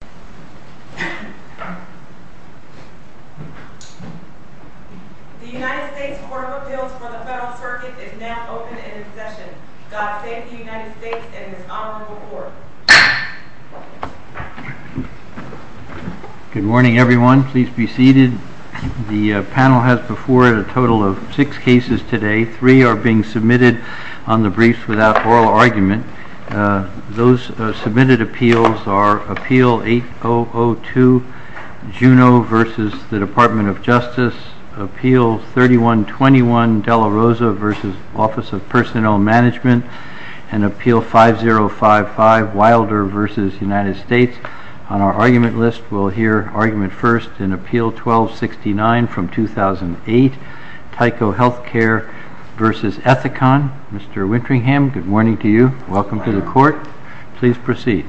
The United States Court of Appeals for the Federal Circuit is now open and in session. God save the United States and His Honorable Court. Good morning everyone. Please be seated. The panel has before it a total of six cases today. Three are being submitted on the briefs without oral argument. Those submitted appeals are Appeal 8002, Juneau v. Department of Justice, Appeal 3121, De La Rosa v. Office of Personnel Management, and Appeal 5055, Wilder v. United States. On our argument list we'll hear argument first in Appeal 1269 from 2008, Tyco Healthcare v. Ethicon. Mr. Winteringham, good morning to you. Welcome to the court. Please proceed.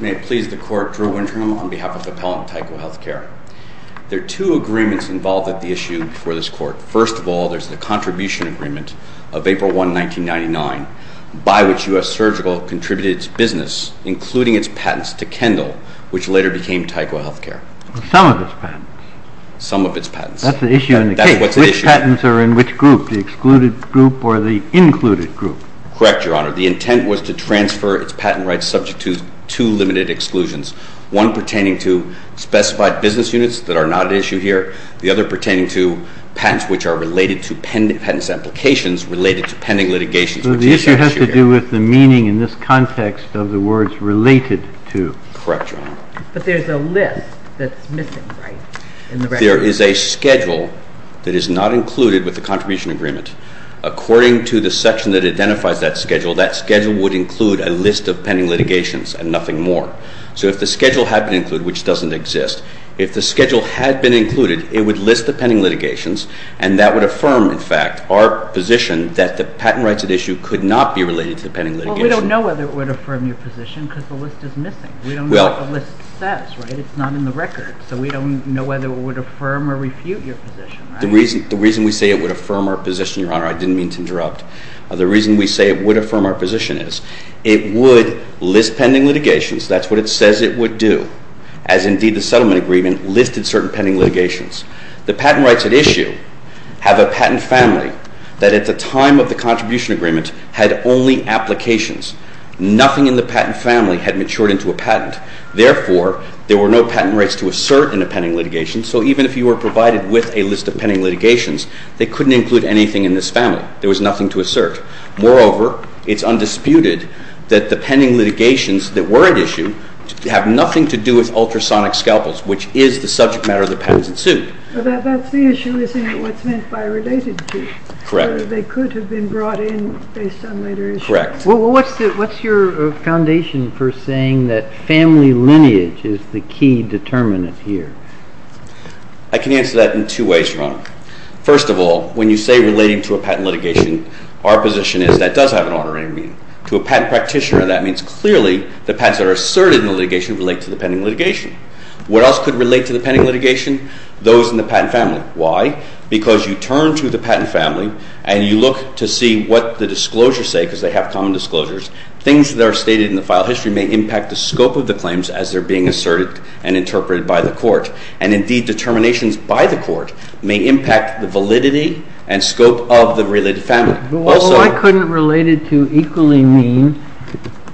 May it please the court, Drew Winteringham on behalf of the appellant Tyco Healthcare. There are two agreements involved with the issue before this court. First of all, there's the contribution agreement of April 1, 1999, by which U.S. Surgical contributed its business, including its patents, to Kendall, which later became Tyco Healthcare. Some of its patents. Some of its patents. That's the issue in the case. That's what's at issue. Which patents are in which group, the excluded group or the included group? Correct, Your Honor. The intent was to transfer its patent rights subject to two limited exclusions, one pertaining to specified business units that are not at issue here, the other pertaining to patents which are related to patent applications related to pending litigations. So the issue has to do with the meaning in this context of the words related to. Correct, Your Honor. But there's a list that's missing, right? There is a schedule that is not included with the contribution agreement. According to the section that identifies that schedule, that schedule would include a list of pending litigations and nothing more. So if the schedule had been included, which doesn't exist, if the schedule had been included, it would list the pending litigations and that would affirm, in fact, our position that the patent rights at issue could not be related to the pending litigation. Well, we don't know whether it would affirm your position because the list is missing. We don't know what the list says, right? It's not in the record. So we don't know whether it would affirm or refute your position, right? The reason we say it would affirm our position, Your Honor, I didn't mean to interrupt. The reason we say it would affirm our position is it would list pending litigations. That's what it says it would do, as indeed the settlement agreement listed certain pending litigations. The patent rights at issue have a patent family that at the time of the contribution agreement had only applications. Nothing in the patent family had matured into a patent. Therefore, there were no patent rights to assert in the pending litigation. So even if you were provided with a list of pending litigations, they couldn't include anything in this family. There was nothing to assert. Moreover, it's undisputed that the pending litigations that were at issue have nothing to do with ultrasonic scalpels, which is the subject matter of the patent suit. But that's the issue, isn't it, what's meant by related to. Correct. They could have been brought in based on later issues. Correct. Well, what's your foundation for saying that family lineage is the key determinant here? I can answer that in two ways, Your Honor. First of all, when you say relating to a patent litigation, our position is that does have an honorary meaning. To a patent practitioner, that means clearly the patents that are asserted in the litigation relate to the pending litigation. What else could relate to the pending litigation? Those in the patent family. Why? Because you turn to the patent family and you look to see what the disclosures say, because they have common disclosures. Things that are stated in the file history may impact the scope of the claims as they're being asserted and interpreted by the court. And indeed, determinations by the court may impact the validity and scope of the related family. Well, I couldn't relate it to equally mean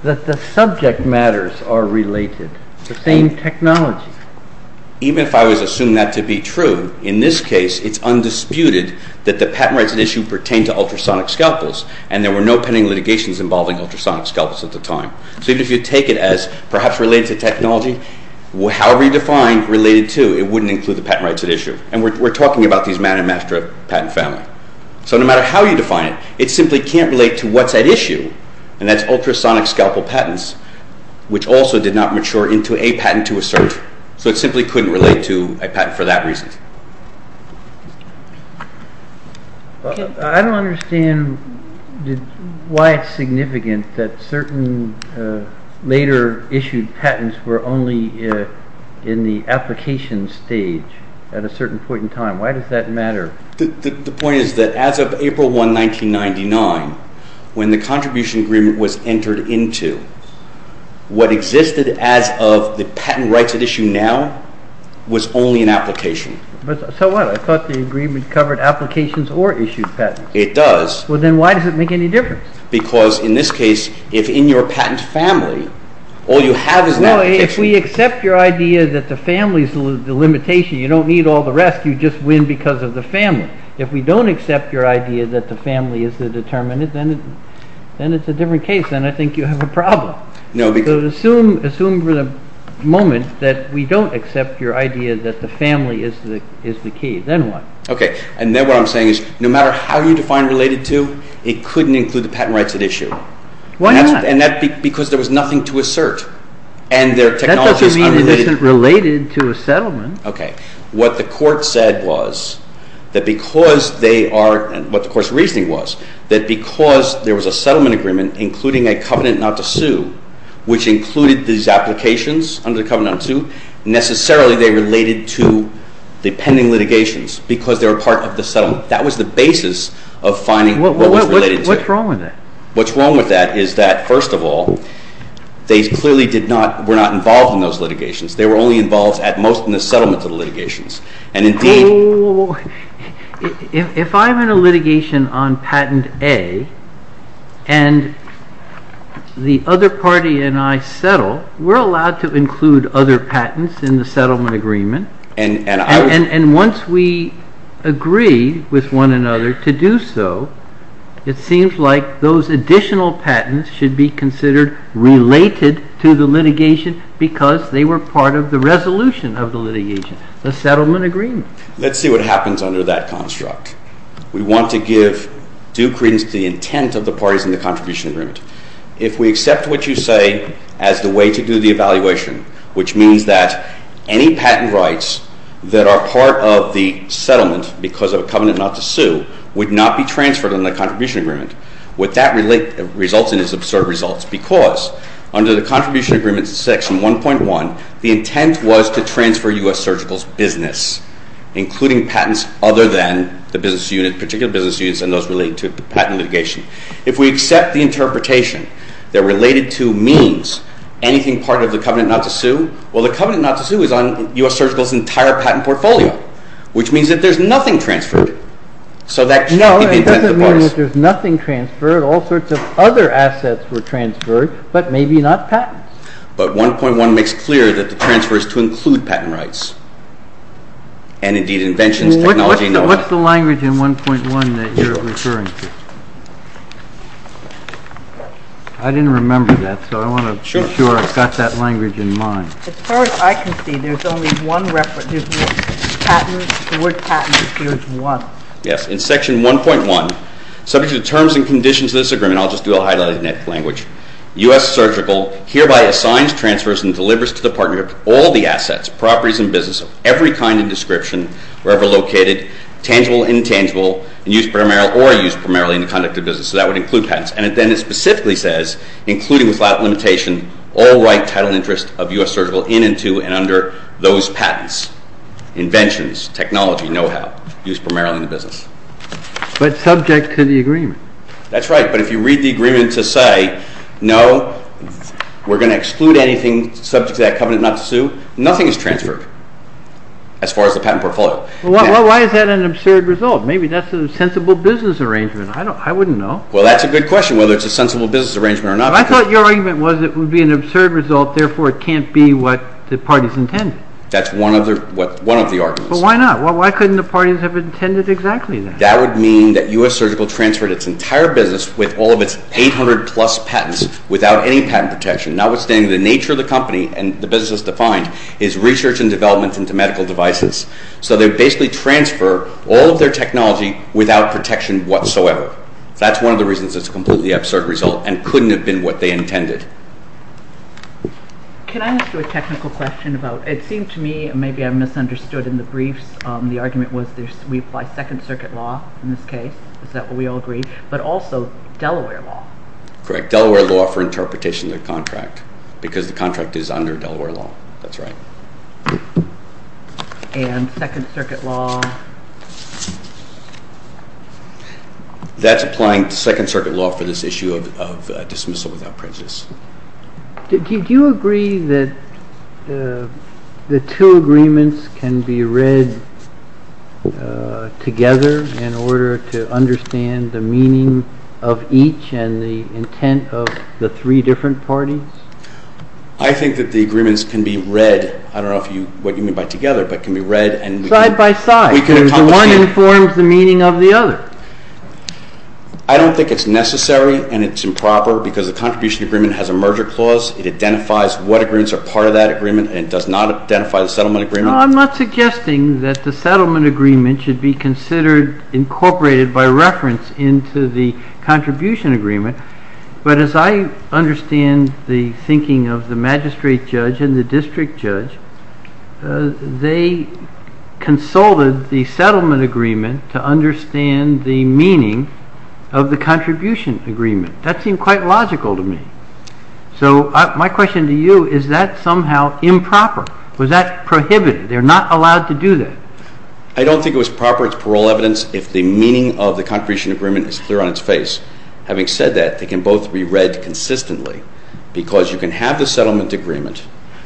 that the subject matters are related, the same technology. Even if I was assuming that to be true, in this case, it's undisputed that the patent rights at issue pertain to ultrasonic scalpels, and there were no pending litigations involving ultrasonic scalpels at the time. So even if you take it as perhaps related to technology, however you define related to, it wouldn't include the patent rights at issue. And we're talking about these man and master patent family. So no matter how you define it, it simply can't relate to what's at issue, and that's ultrasonic scalpel patents, which also did not mature into a patent to assert. So it simply couldn't relate to a patent for that reason. I don't understand why it's significant that certain later issued patents were only in the application stage at a certain point in time. Why does that matter? The point is that as of April 1, 1999, when the contribution agreement was entered into, what existed as of the patent rights at issue now was only an application. So what? I thought the agreement covered applications or issued patents. It does. Well, then why does it make any difference? Because in this case, if in your patent family, all you have is an application. Now, if we accept your idea that the family is the limitation, you don't need all the rest, you just win because of the family. If we don't accept your idea that the family is the determinant, then it's a different case, and I think you have a problem. Assume for the moment that we don't accept your idea that the family is the key, then what? Okay, and then what I'm saying is no matter how you define related to, it couldn't include the patent rights at issue. Why not? Because there was nothing to assert, and their technologies unrelated. Okay. What the Court said was that because they are, and what the Court's reasoning was, that because there was a settlement agreement, including a covenant not to sue, which included these applications under the covenant not to sue, necessarily they related to the pending litigations because they were part of the settlement. That was the basis of finding what was related to. What's wrong with that? What's wrong with that is that, first of all, they clearly did not, were not involved in those litigations. They were only involved, at most, in the settlement of the litigations. Oh, if I'm in a litigation on patent A, and the other party and I settle, we're allowed to include other patents in the settlement agreement, and once we agree with one another to do so, it seems like those additional patents should be considered related to the litigation because they were part of the resolution of the litigation, the settlement agreement. Let's see what happens under that construct. We want to give due credence to the intent of the parties in the contribution agreement. If we accept what you say as the way to do the evaluation, which means that any patent rights that are part of the settlement because of a covenant not to sue would not be transferred on the contribution agreement, would that result in absurd results because under the contribution agreement section 1.1, the intent was to transfer U.S. Surgical's business, including patents other than the business unit, particular business units and those related to patent litigation. If we accept the interpretation that related to means anything part of the covenant not to sue, well, the covenant not to sue is on U.S. Surgical's entire patent portfolio, which means that there's nothing transferred. So that should be the intent of the parties. No, it doesn't mean that there's nothing transferred. All sorts of other assets were transferred, but maybe not patents. But 1.1 makes clear that the transfer is to include patent rights, and indeed inventions, technology, and all that. What's the language in 1.1 that you're referring to? I didn't remember that, so I want to be sure I've got that language in mind. As far as I can see, there's only one reference. There's no patents. The word patents appears once. Yes. In section 1.1, subject to the terms and conditions of this agreement, I'll just do a highlight in that language, U.S. Surgical hereby assigns, transfers, and delivers to the partnership all the assets, properties, and business of every kind and description wherever located, tangible and intangible, and used primarily in the conduct of business. So that would include patents. And then it specifically says, including without limitation, all right, title, and interest of U.S. Surgical in and to and under those patents, inventions, technology, know-how, used primarily in the business. But subject to the agreement. That's right. But if you read the agreement to say, no, we're going to exclude anything subject to that covenant not to sue, nothing is transferred as far as the patent portfolio. Well, why is that an absurd result? Maybe that's a sensible business arrangement. I wouldn't know. Well, that's a good question, whether it's a sensible business arrangement or not. But I thought your argument was it would be an absurd result. Therefore, it can't be what the parties intended. That's one of the arguments. But why not? Why couldn't the parties have intended exactly that? That would mean that U.S. Surgical transferred its entire business with all of its 800-plus patents without any patent protection, notwithstanding the nature of the company and the business defined is research and development into medical devices. So they basically transfer all of their technology without protection whatsoever. That's one of the reasons it's a completely absurd result and couldn't have been what they intended. Can I ask you a technical question about it? It seemed to me maybe I misunderstood in the briefs. The argument was we apply Second Circuit law in this case. Is that what we all agree? But also Delaware law. Correct. Delaware law for interpretation of the contract because the contract is under Delaware law. That's right. And Second Circuit law? That's applying Second Circuit law for this issue of dismissal without prejudice. Did you agree that the two agreements can be read together in order to understand the meaning of each and the intent of the three different parties? I think that the agreements can be read. I don't know what you mean by together, but can be read. Side by side. One informs the meaning of the other. I don't think it's necessary and it's improper because the contribution agreement has a merger clause. It identifies what agreements are part of that agreement and does not identify the settlement agreement. I'm not suggesting that the settlement agreement should be considered incorporated by reference into the contribution agreement. But as I understand the thinking of the magistrate judge and the district judge, they consulted the settlement agreement to understand the meaning of the contribution agreement. That seemed quite logical to me. So my question to you, is that somehow improper? Was that prohibited? They're not allowed to do that. I don't think it was proper. It's parole evidence if the meaning of the contribution agreement is clear on its face. Having said that, they can both be read consistently because you can have the settlement agreement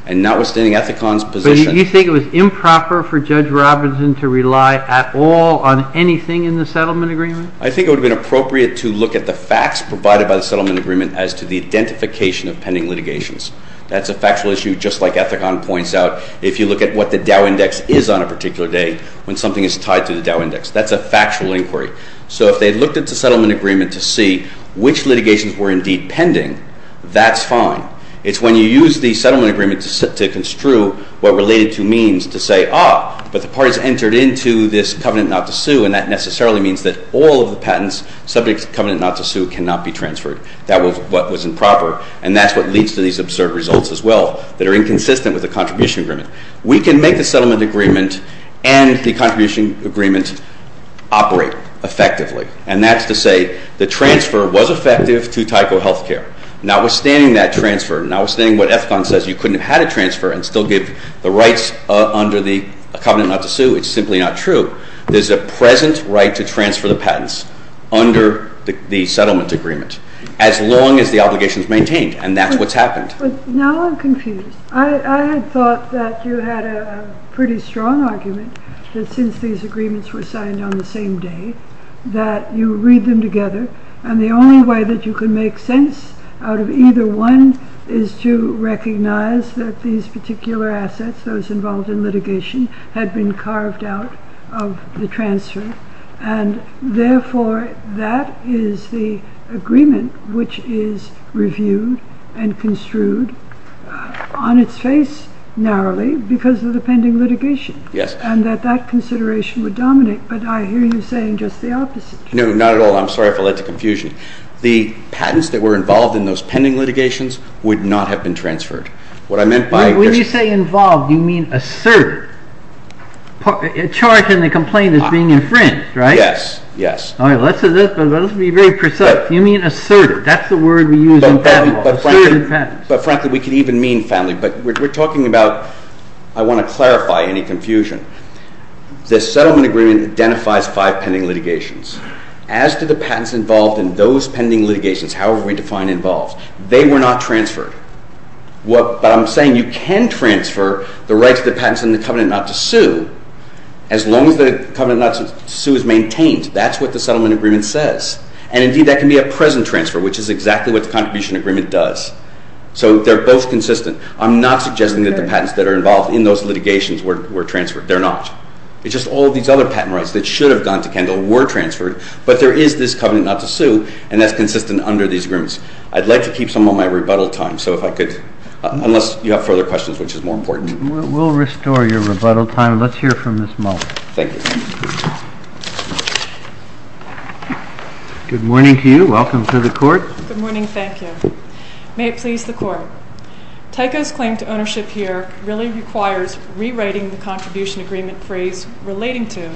and not withstanding Ethicon's position. But you think it was improper for Judge Robinson to rely at all on anything in the settlement agreement? I think it would have been appropriate to look at the facts provided by the settlement agreement as to the identification of pending litigations. That's a factual issue just like Ethicon points out if you look at what the Dow Index is on a particular day when something is tied to the Dow Index. That's a factual inquiry. So if they looked at the settlement agreement to see which litigations were indeed pending, that's fine. It's when you use the settlement agreement to construe what related to means to say, ah, but the parties entered into this covenant not to sue, and that necessarily means that all of the patents subject to covenant not to sue cannot be transferred. That was what was improper. And that's what leads to these absurd results as well that are inconsistent with the contribution agreement. We can make the settlement agreement and the contribution agreement operate effectively. And that's to say the transfer was effective to Tyco Healthcare. Notwithstanding that transfer, notwithstanding what Ethicon says you couldn't have had a transfer and still give the rights under the covenant not to sue, it's simply not true, there's a present right to transfer the patents under the settlement agreement as long as the obligation is maintained. And that's what's happened. But now I'm confused. I had thought that you had a pretty strong argument that since these agreements were signed on the same day, that you read them together, and the only way that you can make sense out of either one is to recognize that these particular assets, those involved in litigation, had been carved out of the transfer. And therefore that is the agreement which is reviewed and construed on its face narrowly because of the pending litigation. And that that consideration would dominate. But I hear you saying just the opposite. No, not at all. I'm sorry if I led to confusion. The patents that were involved in those pending litigations would not have been transferred. When you say involved, you mean asserted. A charge in the complaint is being infringed, right? Yes, yes. Let's be very precise. You mean asserted. That's the word we use in patent law. But frankly, we could even mean family. But we're talking about, I want to clarify any confusion. The settlement agreement identifies five pending litigations. As to the patents involved in those pending litigations, however we define involved, they were not transferred. But I'm saying you can transfer the rights of the patents in the covenant not to sue as long as the covenant not to sue is maintained. That's what the settlement agreement says. And, indeed, that can be a present transfer, which is exactly what the contribution agreement does. So they're both consistent. I'm not suggesting that the patents that are involved in those litigations were transferred. They're not. It's just all these other patent rights that should have gone to Kendall were transferred. But there is this covenant not to sue, and that's consistent under these agreements. I'd like to keep some of my rebuttal time, so if I could, unless you have further questions, which is more important. We'll restore your rebuttal time. Let's hear from Ms. Muller. Thank you. Good morning to you. Welcome to the court. Good morning. Thank you. May it please the court. Tyco's claim to ownership here really requires rewriting the contribution agreement phrase relating to,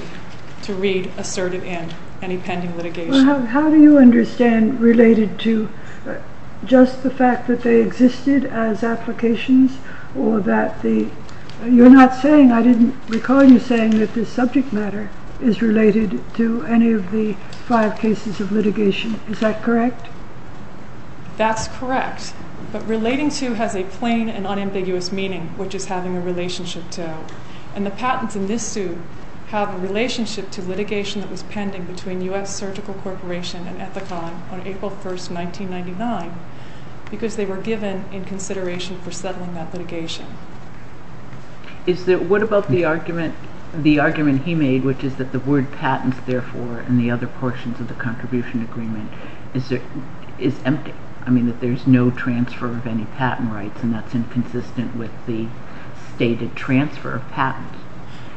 to read asserted in any pending litigation. How do you understand related to just the fact that they existed as applications or that the, you're not saying, I didn't recall you saying that this subject matter is related to any of the five cases of litigation. Is that correct? That's correct. But relating to has a plain and unambiguous meaning, which is having a relationship to. And the patents in this suit have a relationship to litigation that was pending between U.S. Surgical Corporation and Ethicon on April 1st, 1999, because they were given in consideration for settling that litigation. Is there, what about the argument, the argument he made, which is that the word patents, therefore, and the other portions of the contribution agreement is empty. I mean that there's no transfer of any patent rights and that's inconsistent with the stated transfer of patents.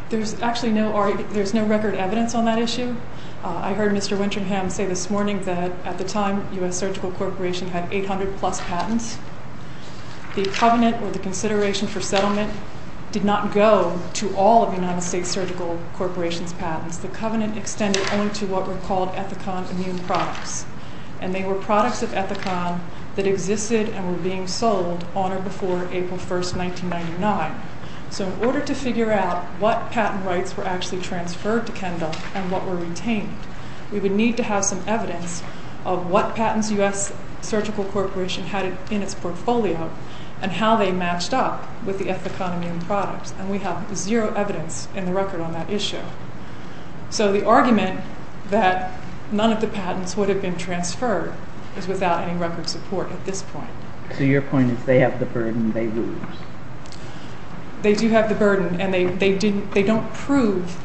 There's actually no, there's no record evidence on that issue. I heard Mr. Winterham say this morning that at the time U.S. Surgical Corporation had 800 plus patents. The covenant or the consideration for settlement did not go to all of the United States Surgical Corporation's patents. The covenant extended only to what were called Ethicon immune products. And they were products of Ethicon that existed and were being sold on or before April 1st, 1999. So in order to figure out what patent rights were actually transferred to Kendall and what were retained, we would need to have some evidence of what patents U.S. Surgical Corporation had in its portfolio and how they matched up with the Ethicon immune products. And we have zero evidence in the record on that issue. So the argument that none of the patents would have been transferred is without any record support at this point. So your point is they have the burden, they lose. They do have the burden and they don't prove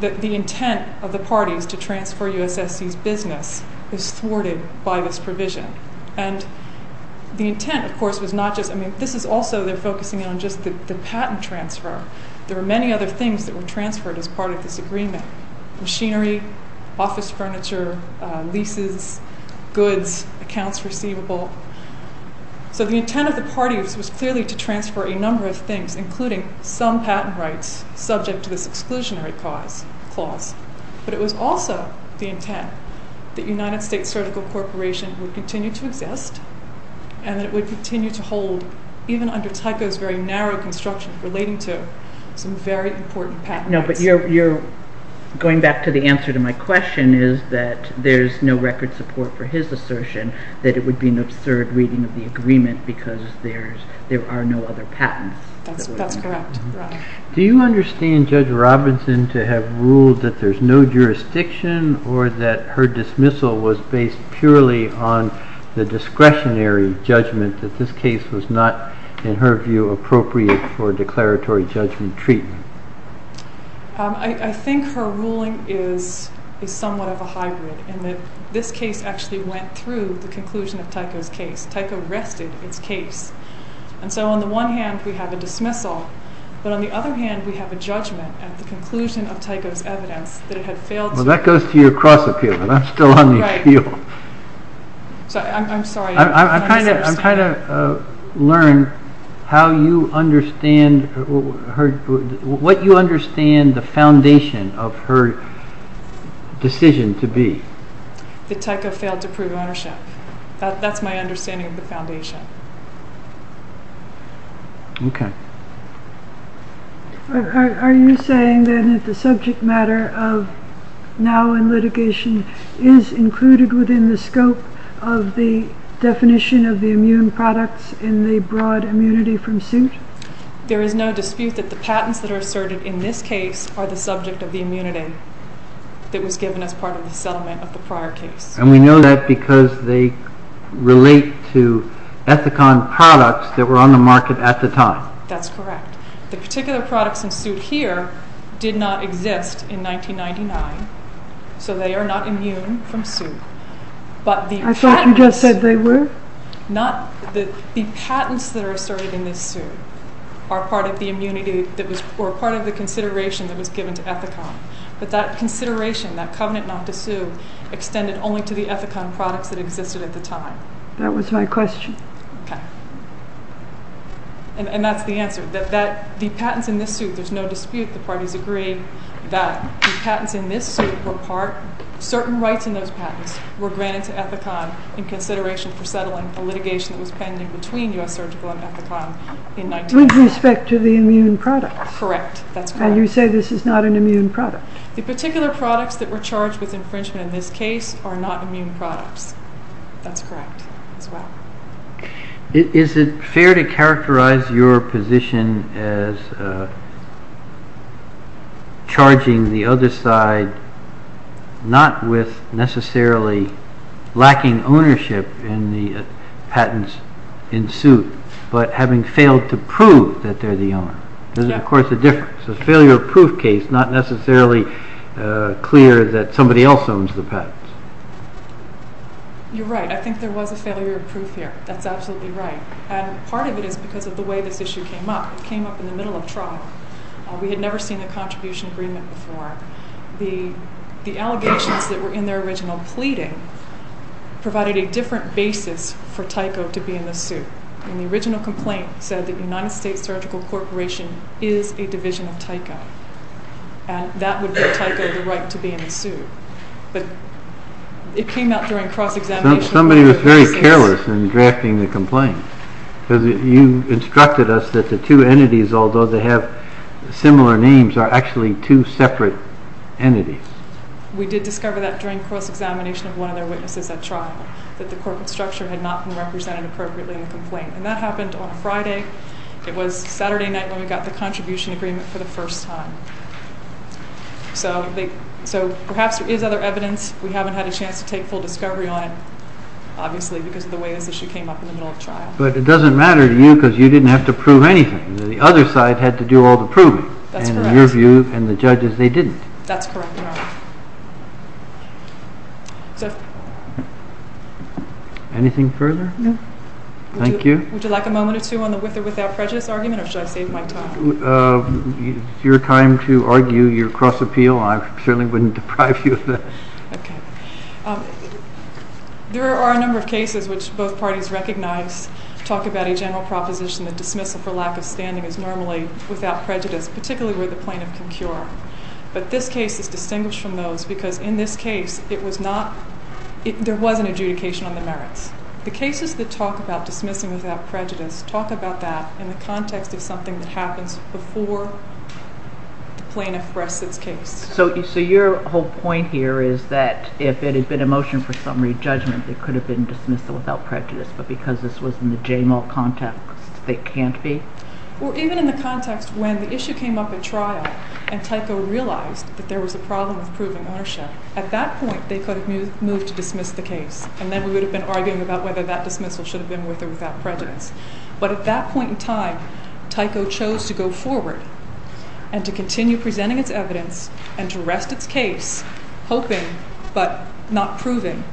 that the intent of the parties to transfer U.S. S.C.'s business is thwarted by this provision. And the intent, of course, was not just, I mean, this is also they're focusing on just the patent transfer. There are many other things that were transferred as part of this agreement. Machinery, office furniture, leases, goods, accounts receivable. So the intent of the parties was clearly to transfer a number of things, including some patent rights subject to this exclusionary clause. But it was also the intent that United States Surgical Corporation would continue to exist and that it would continue to hold even under Tyco's very narrow construction relating to some very important patent rights. No, but you're going back to the answer to my question is that there's no record support for his assertion that it would be an absurd reading of the agreement because there are no other patents. That's correct. Do you understand Judge Robinson to have ruled that there's no jurisdiction or that her dismissal was based purely on the discretionary judgment that this case was not, in her view, appropriate for declaratory judgment treatment? I think her ruling is somewhat of a hybrid in that this case actually went through the conclusion of Tyco's case. Tyco rested its case. And so on the one hand, we have a dismissal. But on the other hand, we have a judgment at the conclusion of Tyco's evidence that it had failed to... Well, that goes to your cross appeal, but I'm still on the appeal. I'm sorry. I'm trying to learn what you understand the foundation of her decision to be. That Tyco failed to prove ownership. That's my understanding of the foundation. Okay. Are you saying then that the subject matter of now in litigation is included within the scope of the definition of the immune products in the broad immunity from suit? There is no dispute that the patents that are asserted in this case are the subject of the immunity that was given as part of the settlement of the prior case. And we know that because they relate to Ethicon products that were on the market at the time. That's correct. The particular products in suit here did not exist in 1999. So they are not immune from suit. I thought you just said they were? The patents that are asserted in this suit are part of the consideration that was given to Ethicon. But that consideration, that covenant not to sue, extended only to the Ethicon products that existed at the time. That was my question. Okay. And that's the answer. The patents in this suit, there's no dispute. The parties agreed that the patents in this suit were part. Certain rights in those patents were granted to Ethicon in consideration for settling a litigation that was pending between U.S. Surgical and Ethicon in 1999. With respect to the immune products? Correct. That's correct. And you say this is not an immune product? The particular products that were charged with infringement in this case are not immune products. That's correct as well. Is it fair to characterize your position as charging the other side not with necessarily lacking ownership in the patents in suit, but having failed to prove that they're the owner? There's, of course, a difference. A failure-of-proof case, not necessarily clear that somebody else owns the patents. You're right. I think there was a failure-of-proof here. That's absolutely right. And part of it is because of the way this issue came up. It came up in the middle of trial. We had never seen a contribution agreement before. The allegations that were in their original pleading provided a different basis for Tyco to be in the suit. And the original complaint said that United States Surgical Corporation is a division of Tyco. And that would give Tyco the right to be in the suit. It came out during cross-examination. Somebody was very careless in drafting the complaint because you instructed us that the two entities, although they have similar names, are actually two separate entities. We did discover that during cross-examination of one of their witnesses at trial, that the corporate structure had not been represented appropriately in the complaint. And that happened on a Friday. It was Saturday night when we got the contribution agreement for the first time. So perhaps there is other evidence. We haven't had a chance to take full discovery on it, obviously, because of the way this issue came up in the middle of trial. But it doesn't matter to you because you didn't have to prove anything. The other side had to do all the proving. That's correct. And in your view, and the judge's, they didn't. That's correct. Anything further? No. Thank you. Would you like a moment or two on the with or without prejudice argument, or should I save my time? It's your time to argue your cross-appeal. I certainly wouldn't deprive you of that. Okay. There are a number of cases which both parties recognize, talk about a general proposition that dismissal for lack of standing is normally without prejudice, particularly where the plaintiff can cure. But this case is distinguished from those because in this case, it was not, there was an adjudication on the merits. The cases that talk about dismissing without prejudice talk about that in the context of something that happens before the plaintiff rests its case. So your whole point here is that if it had been a motion for summary judgment, it could have been dismissal without prejudice. But because this was in the J-Mall context, it can't be? Well, even in the context when the issue came up at trial and Tyco realized that there was a problem with proving ownership, at that point, they could have moved to dismiss the case. And then we would have been arguing about whether that dismissal should have been with or without prejudice. But at that point in time, Tyco chose to go forward and to continue presenting its evidence and to rest its case, hoping but not proving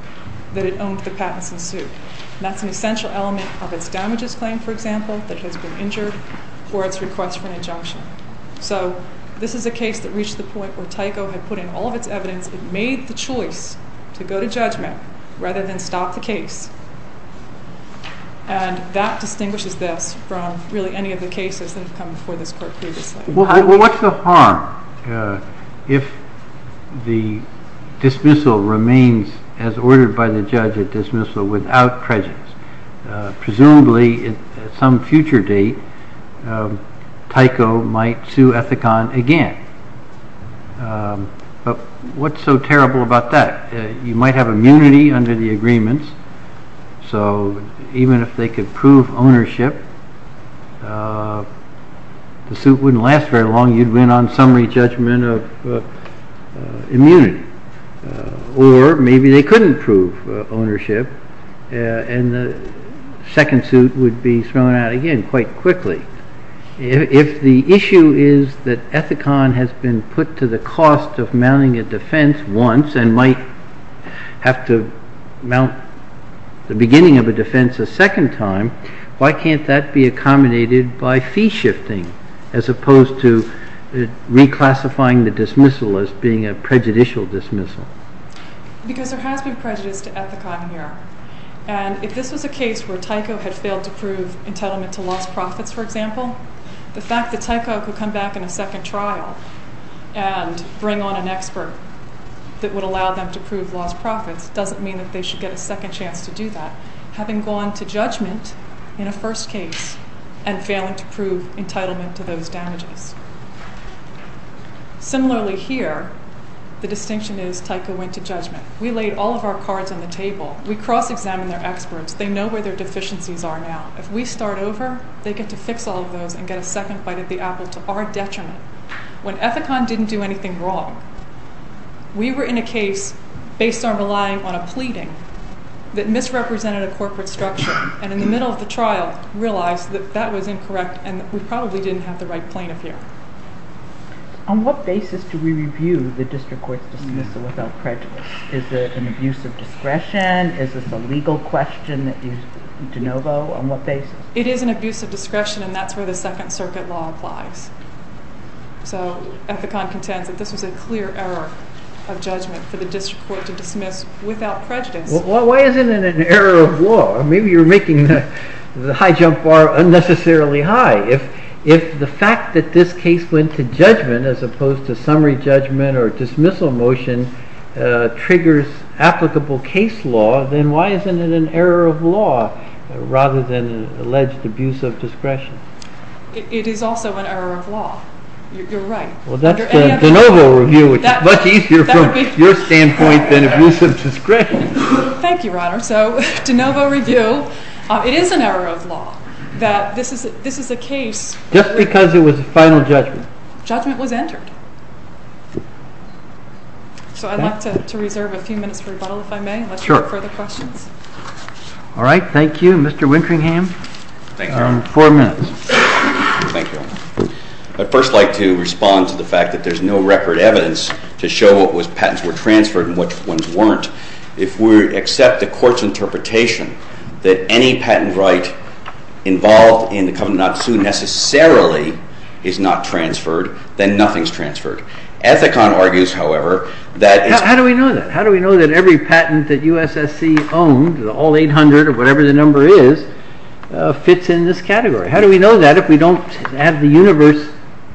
that it owned the patents in suit. And that's an essential element of its damages claim, for example, that has been injured for its request for an injunction. So this is a case that reached the point where Tyco had put in all of its evidence. It made the choice to go to judgment rather than stop the case. And that distinguishes this from really any of the cases that have come before this Court previously. Well, what's the harm if the dismissal remains as ordered by the judge, a dismissal without prejudice? Presumably, at some future date, Tyco might sue Ethicon again. But what's so terrible about that? You might have immunity under the agreements. So even if they could prove ownership, the suit wouldn't last very long. You'd win on summary judgment of immunity. Or maybe they couldn't prove ownership, and the second suit would be thrown out again quite quickly. If the issue is that Ethicon has been put to the cost of mounting a defense once and might have to mount the beginning of a defense a second time, why can't that be accommodated by fee shifting as opposed to reclassifying the dismissal as being a prejudicial dismissal? Because there has been prejudice to Ethicon here. And if this was a case where Tyco had failed to prove entitlement to lost profits, for example, the fact that Tyco could come back in a second trial and bring on an expert that would allow them to prove lost profits doesn't mean that they should get a second chance to do that, having gone to judgment in a first case and failing to prove entitlement to those damages. Similarly here, the distinction is Tyco went to judgment. We laid all of our cards on the table. We cross-examined their experts. They know where their deficiencies are now. If we start over, they get to fix all of those and get a second bite at the apple to our detriment. When Ethicon didn't do anything wrong, we were in a case based on relying on a pleading that misrepresented a corporate structure and in the middle of the trial realized that that was incorrect and we probably didn't have the right plaintiff here. On what basis do we review the District Court's dismissal without prejudice? Is it an abuse of discretion? Is this a legal question that you de novo on what basis? It is an abuse of discretion and that's where the Second Circuit law applies. So Ethicon contends that this was a clear error of judgment for the District Court to dismiss without prejudice. Why isn't it an error of law? Maybe you're making the high jump bar unnecessarily high. If the fact that this case went to judgment as opposed to summary judgment or dismissal motion triggers applicable case law, then why isn't it an error of law rather than an alleged abuse of discretion? It is also an error of law. You're right. Well, that's the de novo review, which is much easier from your standpoint than abuse of discretion. Thank you, Your Honor. So de novo review, it is an error of law that this is a case... Just because it was a final judgment. ...judgment was entered. So I'd like to reserve a few minutes for rebuttal if I may. Sure. Unless you have further questions. All right. Thank you. Mr. Wintringham. Thank you. You're on four minutes. Thank you. I'd first like to respond to the fact that there's no record evidence to show what patents were transferred and which ones weren't. If we accept the court's interpretation that any patent right involved in the Covenant on Tzu necessarily is not transferred, then nothing's transferred. Ethicon argues, however, that it's... How do we know that? How do we know that every patent that USSC owned, all 800 or whatever the number is, fits in this category? How do we know that if we don't have the universe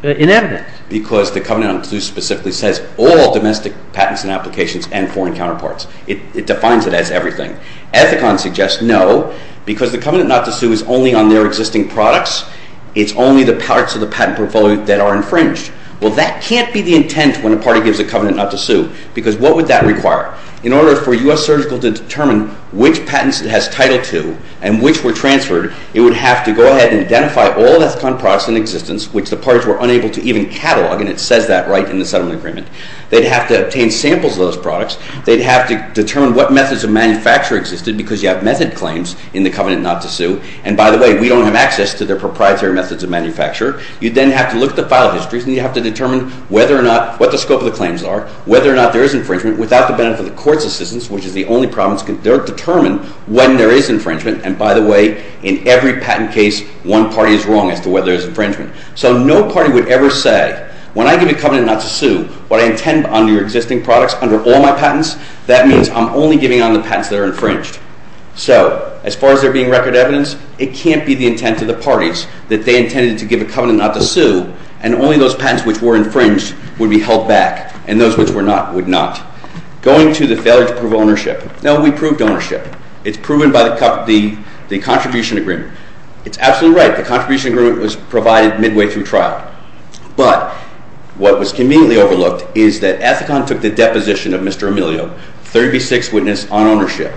in evidence? Because the Covenant on Tzu specifically says all domestic patents and applications and foreign counterparts. It defines it as everything. Ethicon suggests no, because the Covenant not to sue is only on their existing products. It's only the parts of the patent portfolio that are infringed. Well, that can't be the intent when a party gives a covenant not to sue, because what would that require? In order for a US surgical to determine which patents it has title to and which were transferred, it would have to go ahead and identify all Ethicon products in existence, which the parties were unable to even catalogue, and it says that right in the settlement agreement. They'd have to obtain samples of those products. They'd have to determine what methods of manufacture existed, because you have method claims in the Covenant not to sue. And by the way, we don't have access to their proprietary methods of manufacture. You'd then have to look at the file histories, and you'd have to determine whether or not... what the scope of the claims are, whether or not there is infringement, without the benefit of the court's assistance, which is the only problem. They don't determine when there is infringement. And by the way, in every patent case, one party is wrong as to whether there is infringement. So no party would ever say, when I give a covenant not to sue, what I intend on your existing products under all my patents, that means I'm only giving on the patents that are infringed. So as far as there being record evidence, it can't be the intent of the parties that they intended to give a covenant not to sue, and only those patents which were infringed would be held back, and those which were not would not. Going to the failure to prove ownership. No, we proved ownership. It's proven by the contribution agreement. It's absolutely right. The contribution agreement was provided midway through trial. But what was conveniently overlooked is that Ethicon took the deposition of Mr. Emilio, 36th witness on ownership,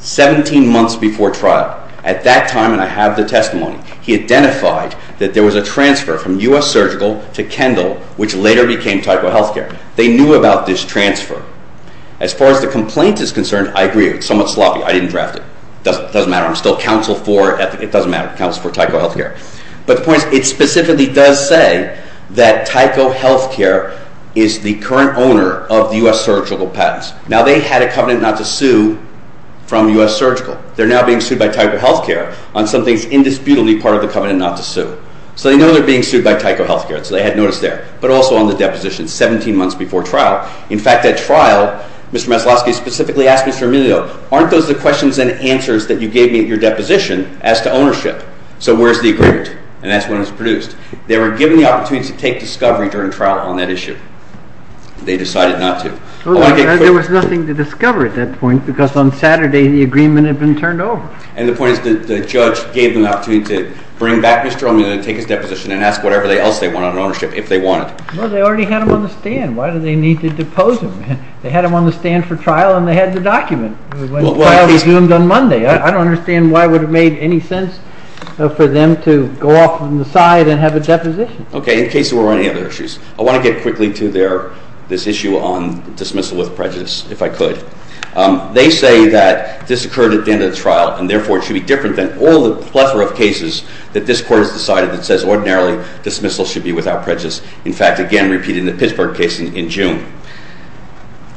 17 months before trial. At that time, and I have the testimony, he identified that there was a transfer from U.S. Surgical to Kendall, which later became Tyco Healthcare. They knew about this transfer. As far as the complaint is concerned, I agree. It's somewhat sloppy. I didn't draft it. It doesn't matter. I'm still counsel for Ethicon. It doesn't matter. I'm counsel for Tyco Healthcare. But the point is, it specifically does say that Tyco Healthcare is the current owner of the U.S. Surgical patents. Now, they had a covenant not to sue from U.S. Surgical. They're now being sued by Tyco Healthcare on something that's indisputably part of the covenant not to sue. So they know they're being sued by Tyco Healthcare, so they had notice there, but also on the deposition 17 months before trial. In fact, at trial, Mr. Maslowski specifically asked Mr. Emilio, aren't those the questions and answers that you gave me at your deposition as to ownership? So where's the agreement? And that's when it was produced. They were given the opportunity to take discovery during trial on that issue. They decided not to. There was nothing to discover at that point because on Saturday the agreement had been turned over. And the point is the judge gave them the opportunity to bring back Mr. Emilio to take his deposition and ask whatever else they wanted on ownership if they wanted. Well, they already had him on the stand. Why do they need to depose him? They had him on the stand for trial, and they had the document. The trial resumed on Monday. I don't understand why it would have made any sense for them to go off on the side and have a deposition. Okay, in case there were any other issues. I want to get quickly to this issue on dismissal with prejudice, if I could. They say that this occurred at the end of the trial, and therefore it should be different than all the plethora of cases that this Court has decided that says ordinarily dismissal should be without prejudice. In fact, again, repeated in the Pittsburgh case in June.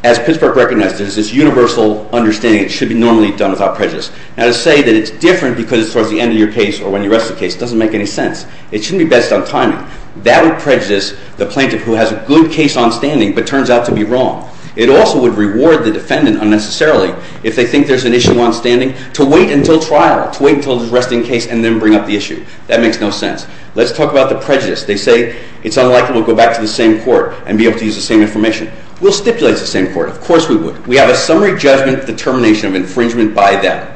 As Pittsburgh recognized, there's this universal understanding it should be normally done without prejudice. Now, to say that it's different because it's towards the end of your case or when you rest the case doesn't make any sense. It shouldn't be based on timing. That would prejudice the plaintiff who has a good case on standing but turns out to be wrong. It also would reward the defendant unnecessarily if they think there's an issue on standing to wait until trial, to wait until the resting case and then bring up the issue. That makes no sense. Let's talk about the prejudice. They say it's unlikely we'll go back to the same Court and be able to use the same information. We'll stipulate the same Court. Of course we would. We have a summary judgment determination of infringement by them.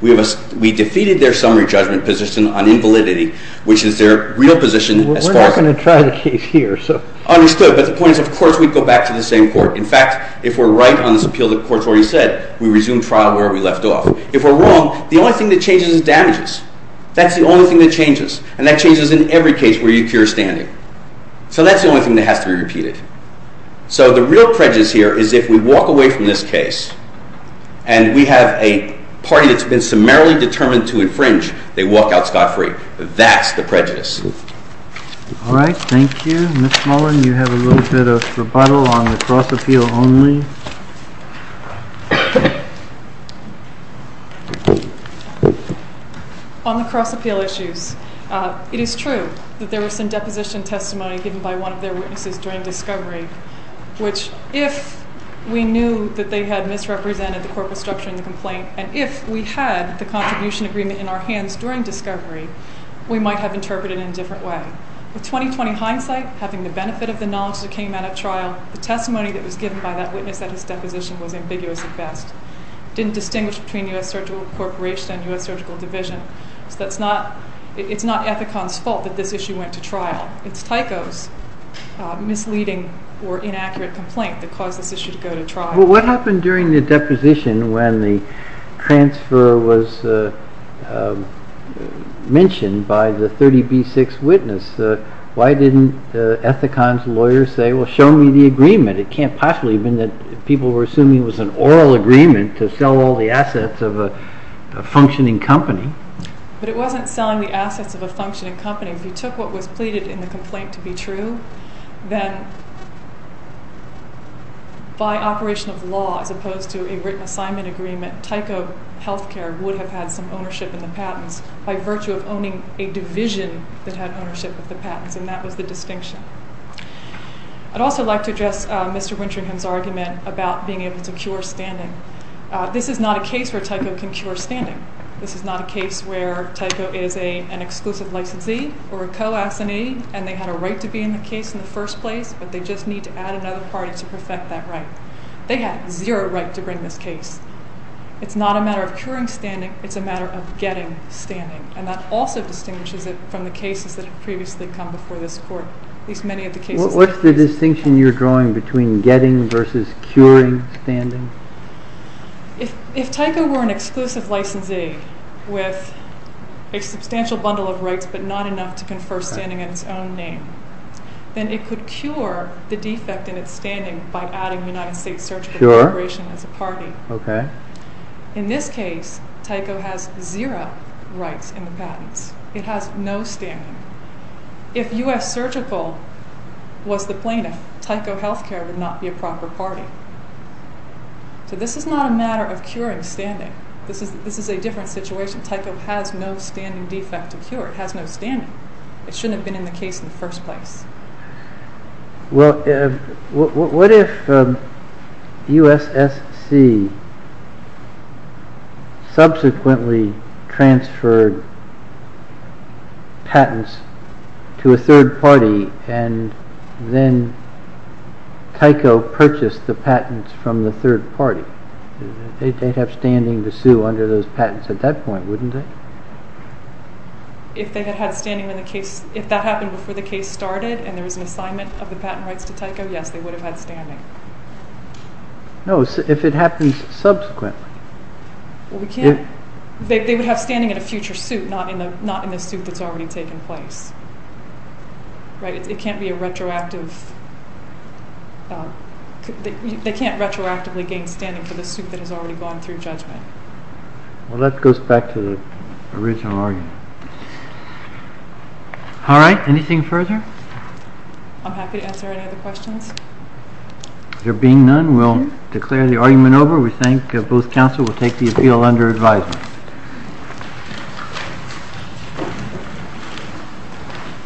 We defeated their summary judgment position on invalidity, which is their real position as far as— We're not going to try the case here, so— Understood, but the point is of course we'd go back to the same Court. In fact, if we're right on this appeal, the Court's already said, we resume trial where we left off. If we're wrong, the only thing that changes is damages. That's the only thing that changes, and that changes in every case where you cure standing. So that's the only thing that has to be repeated. So the real prejudice here is if we walk away from this case and we have a party that's been summarily determined to infringe, they walk out scot-free. That's the prejudice. All right. Thank you. Ms. Mullen, you have a little bit of rebuttal on the cross-appeal only. On the cross-appeal issues, it is true that there was some deposition testimony given by one of their witnesses during discovery, which if we knew that they had misrepresented the corporate structure in the complaint, and if we had the contribution agreement in our hands during discovery, we might have interpreted it in a different way. With 20-20 hindsight, having the benefit of the knowledge that came out at trial, the testimony that was given by that witness at his deposition was ambiguous at best. It didn't distinguish between U.S. Surgical Corporation and U.S. Surgical Division. So it's not Ethicon's fault that this issue went to trial. It's Tyco's misleading or inaccurate complaint that caused this issue to go to trial. Well, what happened during the deposition when the transfer was mentioned by the 30B6 witness? Why didn't Ethicon's lawyer say, well, show me the agreement? It can't possibly have been that people were assuming it was an oral agreement to sell all the assets of a functioning company. But it wasn't selling the assets of a functioning company. If you took what was pleaded in the complaint to be true, then by operation of law, as opposed to a written assignment agreement, Tyco Healthcare would have had some ownership in the patents by virtue of owning a division that had ownership of the patents, and that was the distinction. I'd also like to address Mr. Winteringham's argument about being able to cure standing. This is not a case where Tyco can cure standing. This is not a case where Tyco is an exclusive licensee or a co-assinee, and they had a right to be in the case in the first place, but they just need to add another party to perfect that right. They had zero right to bring this case. It's not a matter of curing standing. It's a matter of getting standing. And that also distinguishes it from the cases that have previously come before this court. At least many of the cases. What's the distinction you're drawing between getting versus curing standing? If Tyco were an exclusive licensee with a substantial bundle of rights, but not enough to confer standing in its own name, then it could cure the defect in its standing by adding the United States surgical corporation as a party. In this case, Tyco has zero rights in the patents. It has no standing. If U.S. Surgical was the plaintiff, Tyco Healthcare would not be a proper party. So this is not a matter of curing standing. This is a different situation. Tyco has no standing defect to cure. It has no standing. It shouldn't have been in the case in the first place. Well, what if U.S.S.C. subsequently transferred patents to a third party and then Tyco purchased the patents from the third party? They'd have standing to sue under those patents at that point, wouldn't they? If that happened before the case started and there was an assignment of the patent rights to Tyco, yes, they would have had standing. No, if it happens subsequently. They would have standing in a future suit, not in the suit that's already taken place. They can't retroactively gain standing for the suit that has already gone through judgment. Well, that goes back to the original argument. All right. Anything further? I'm happy to answer any other questions. There being none, we'll declare the argument over. We thank both counsel. We'll take the appeal under advisement.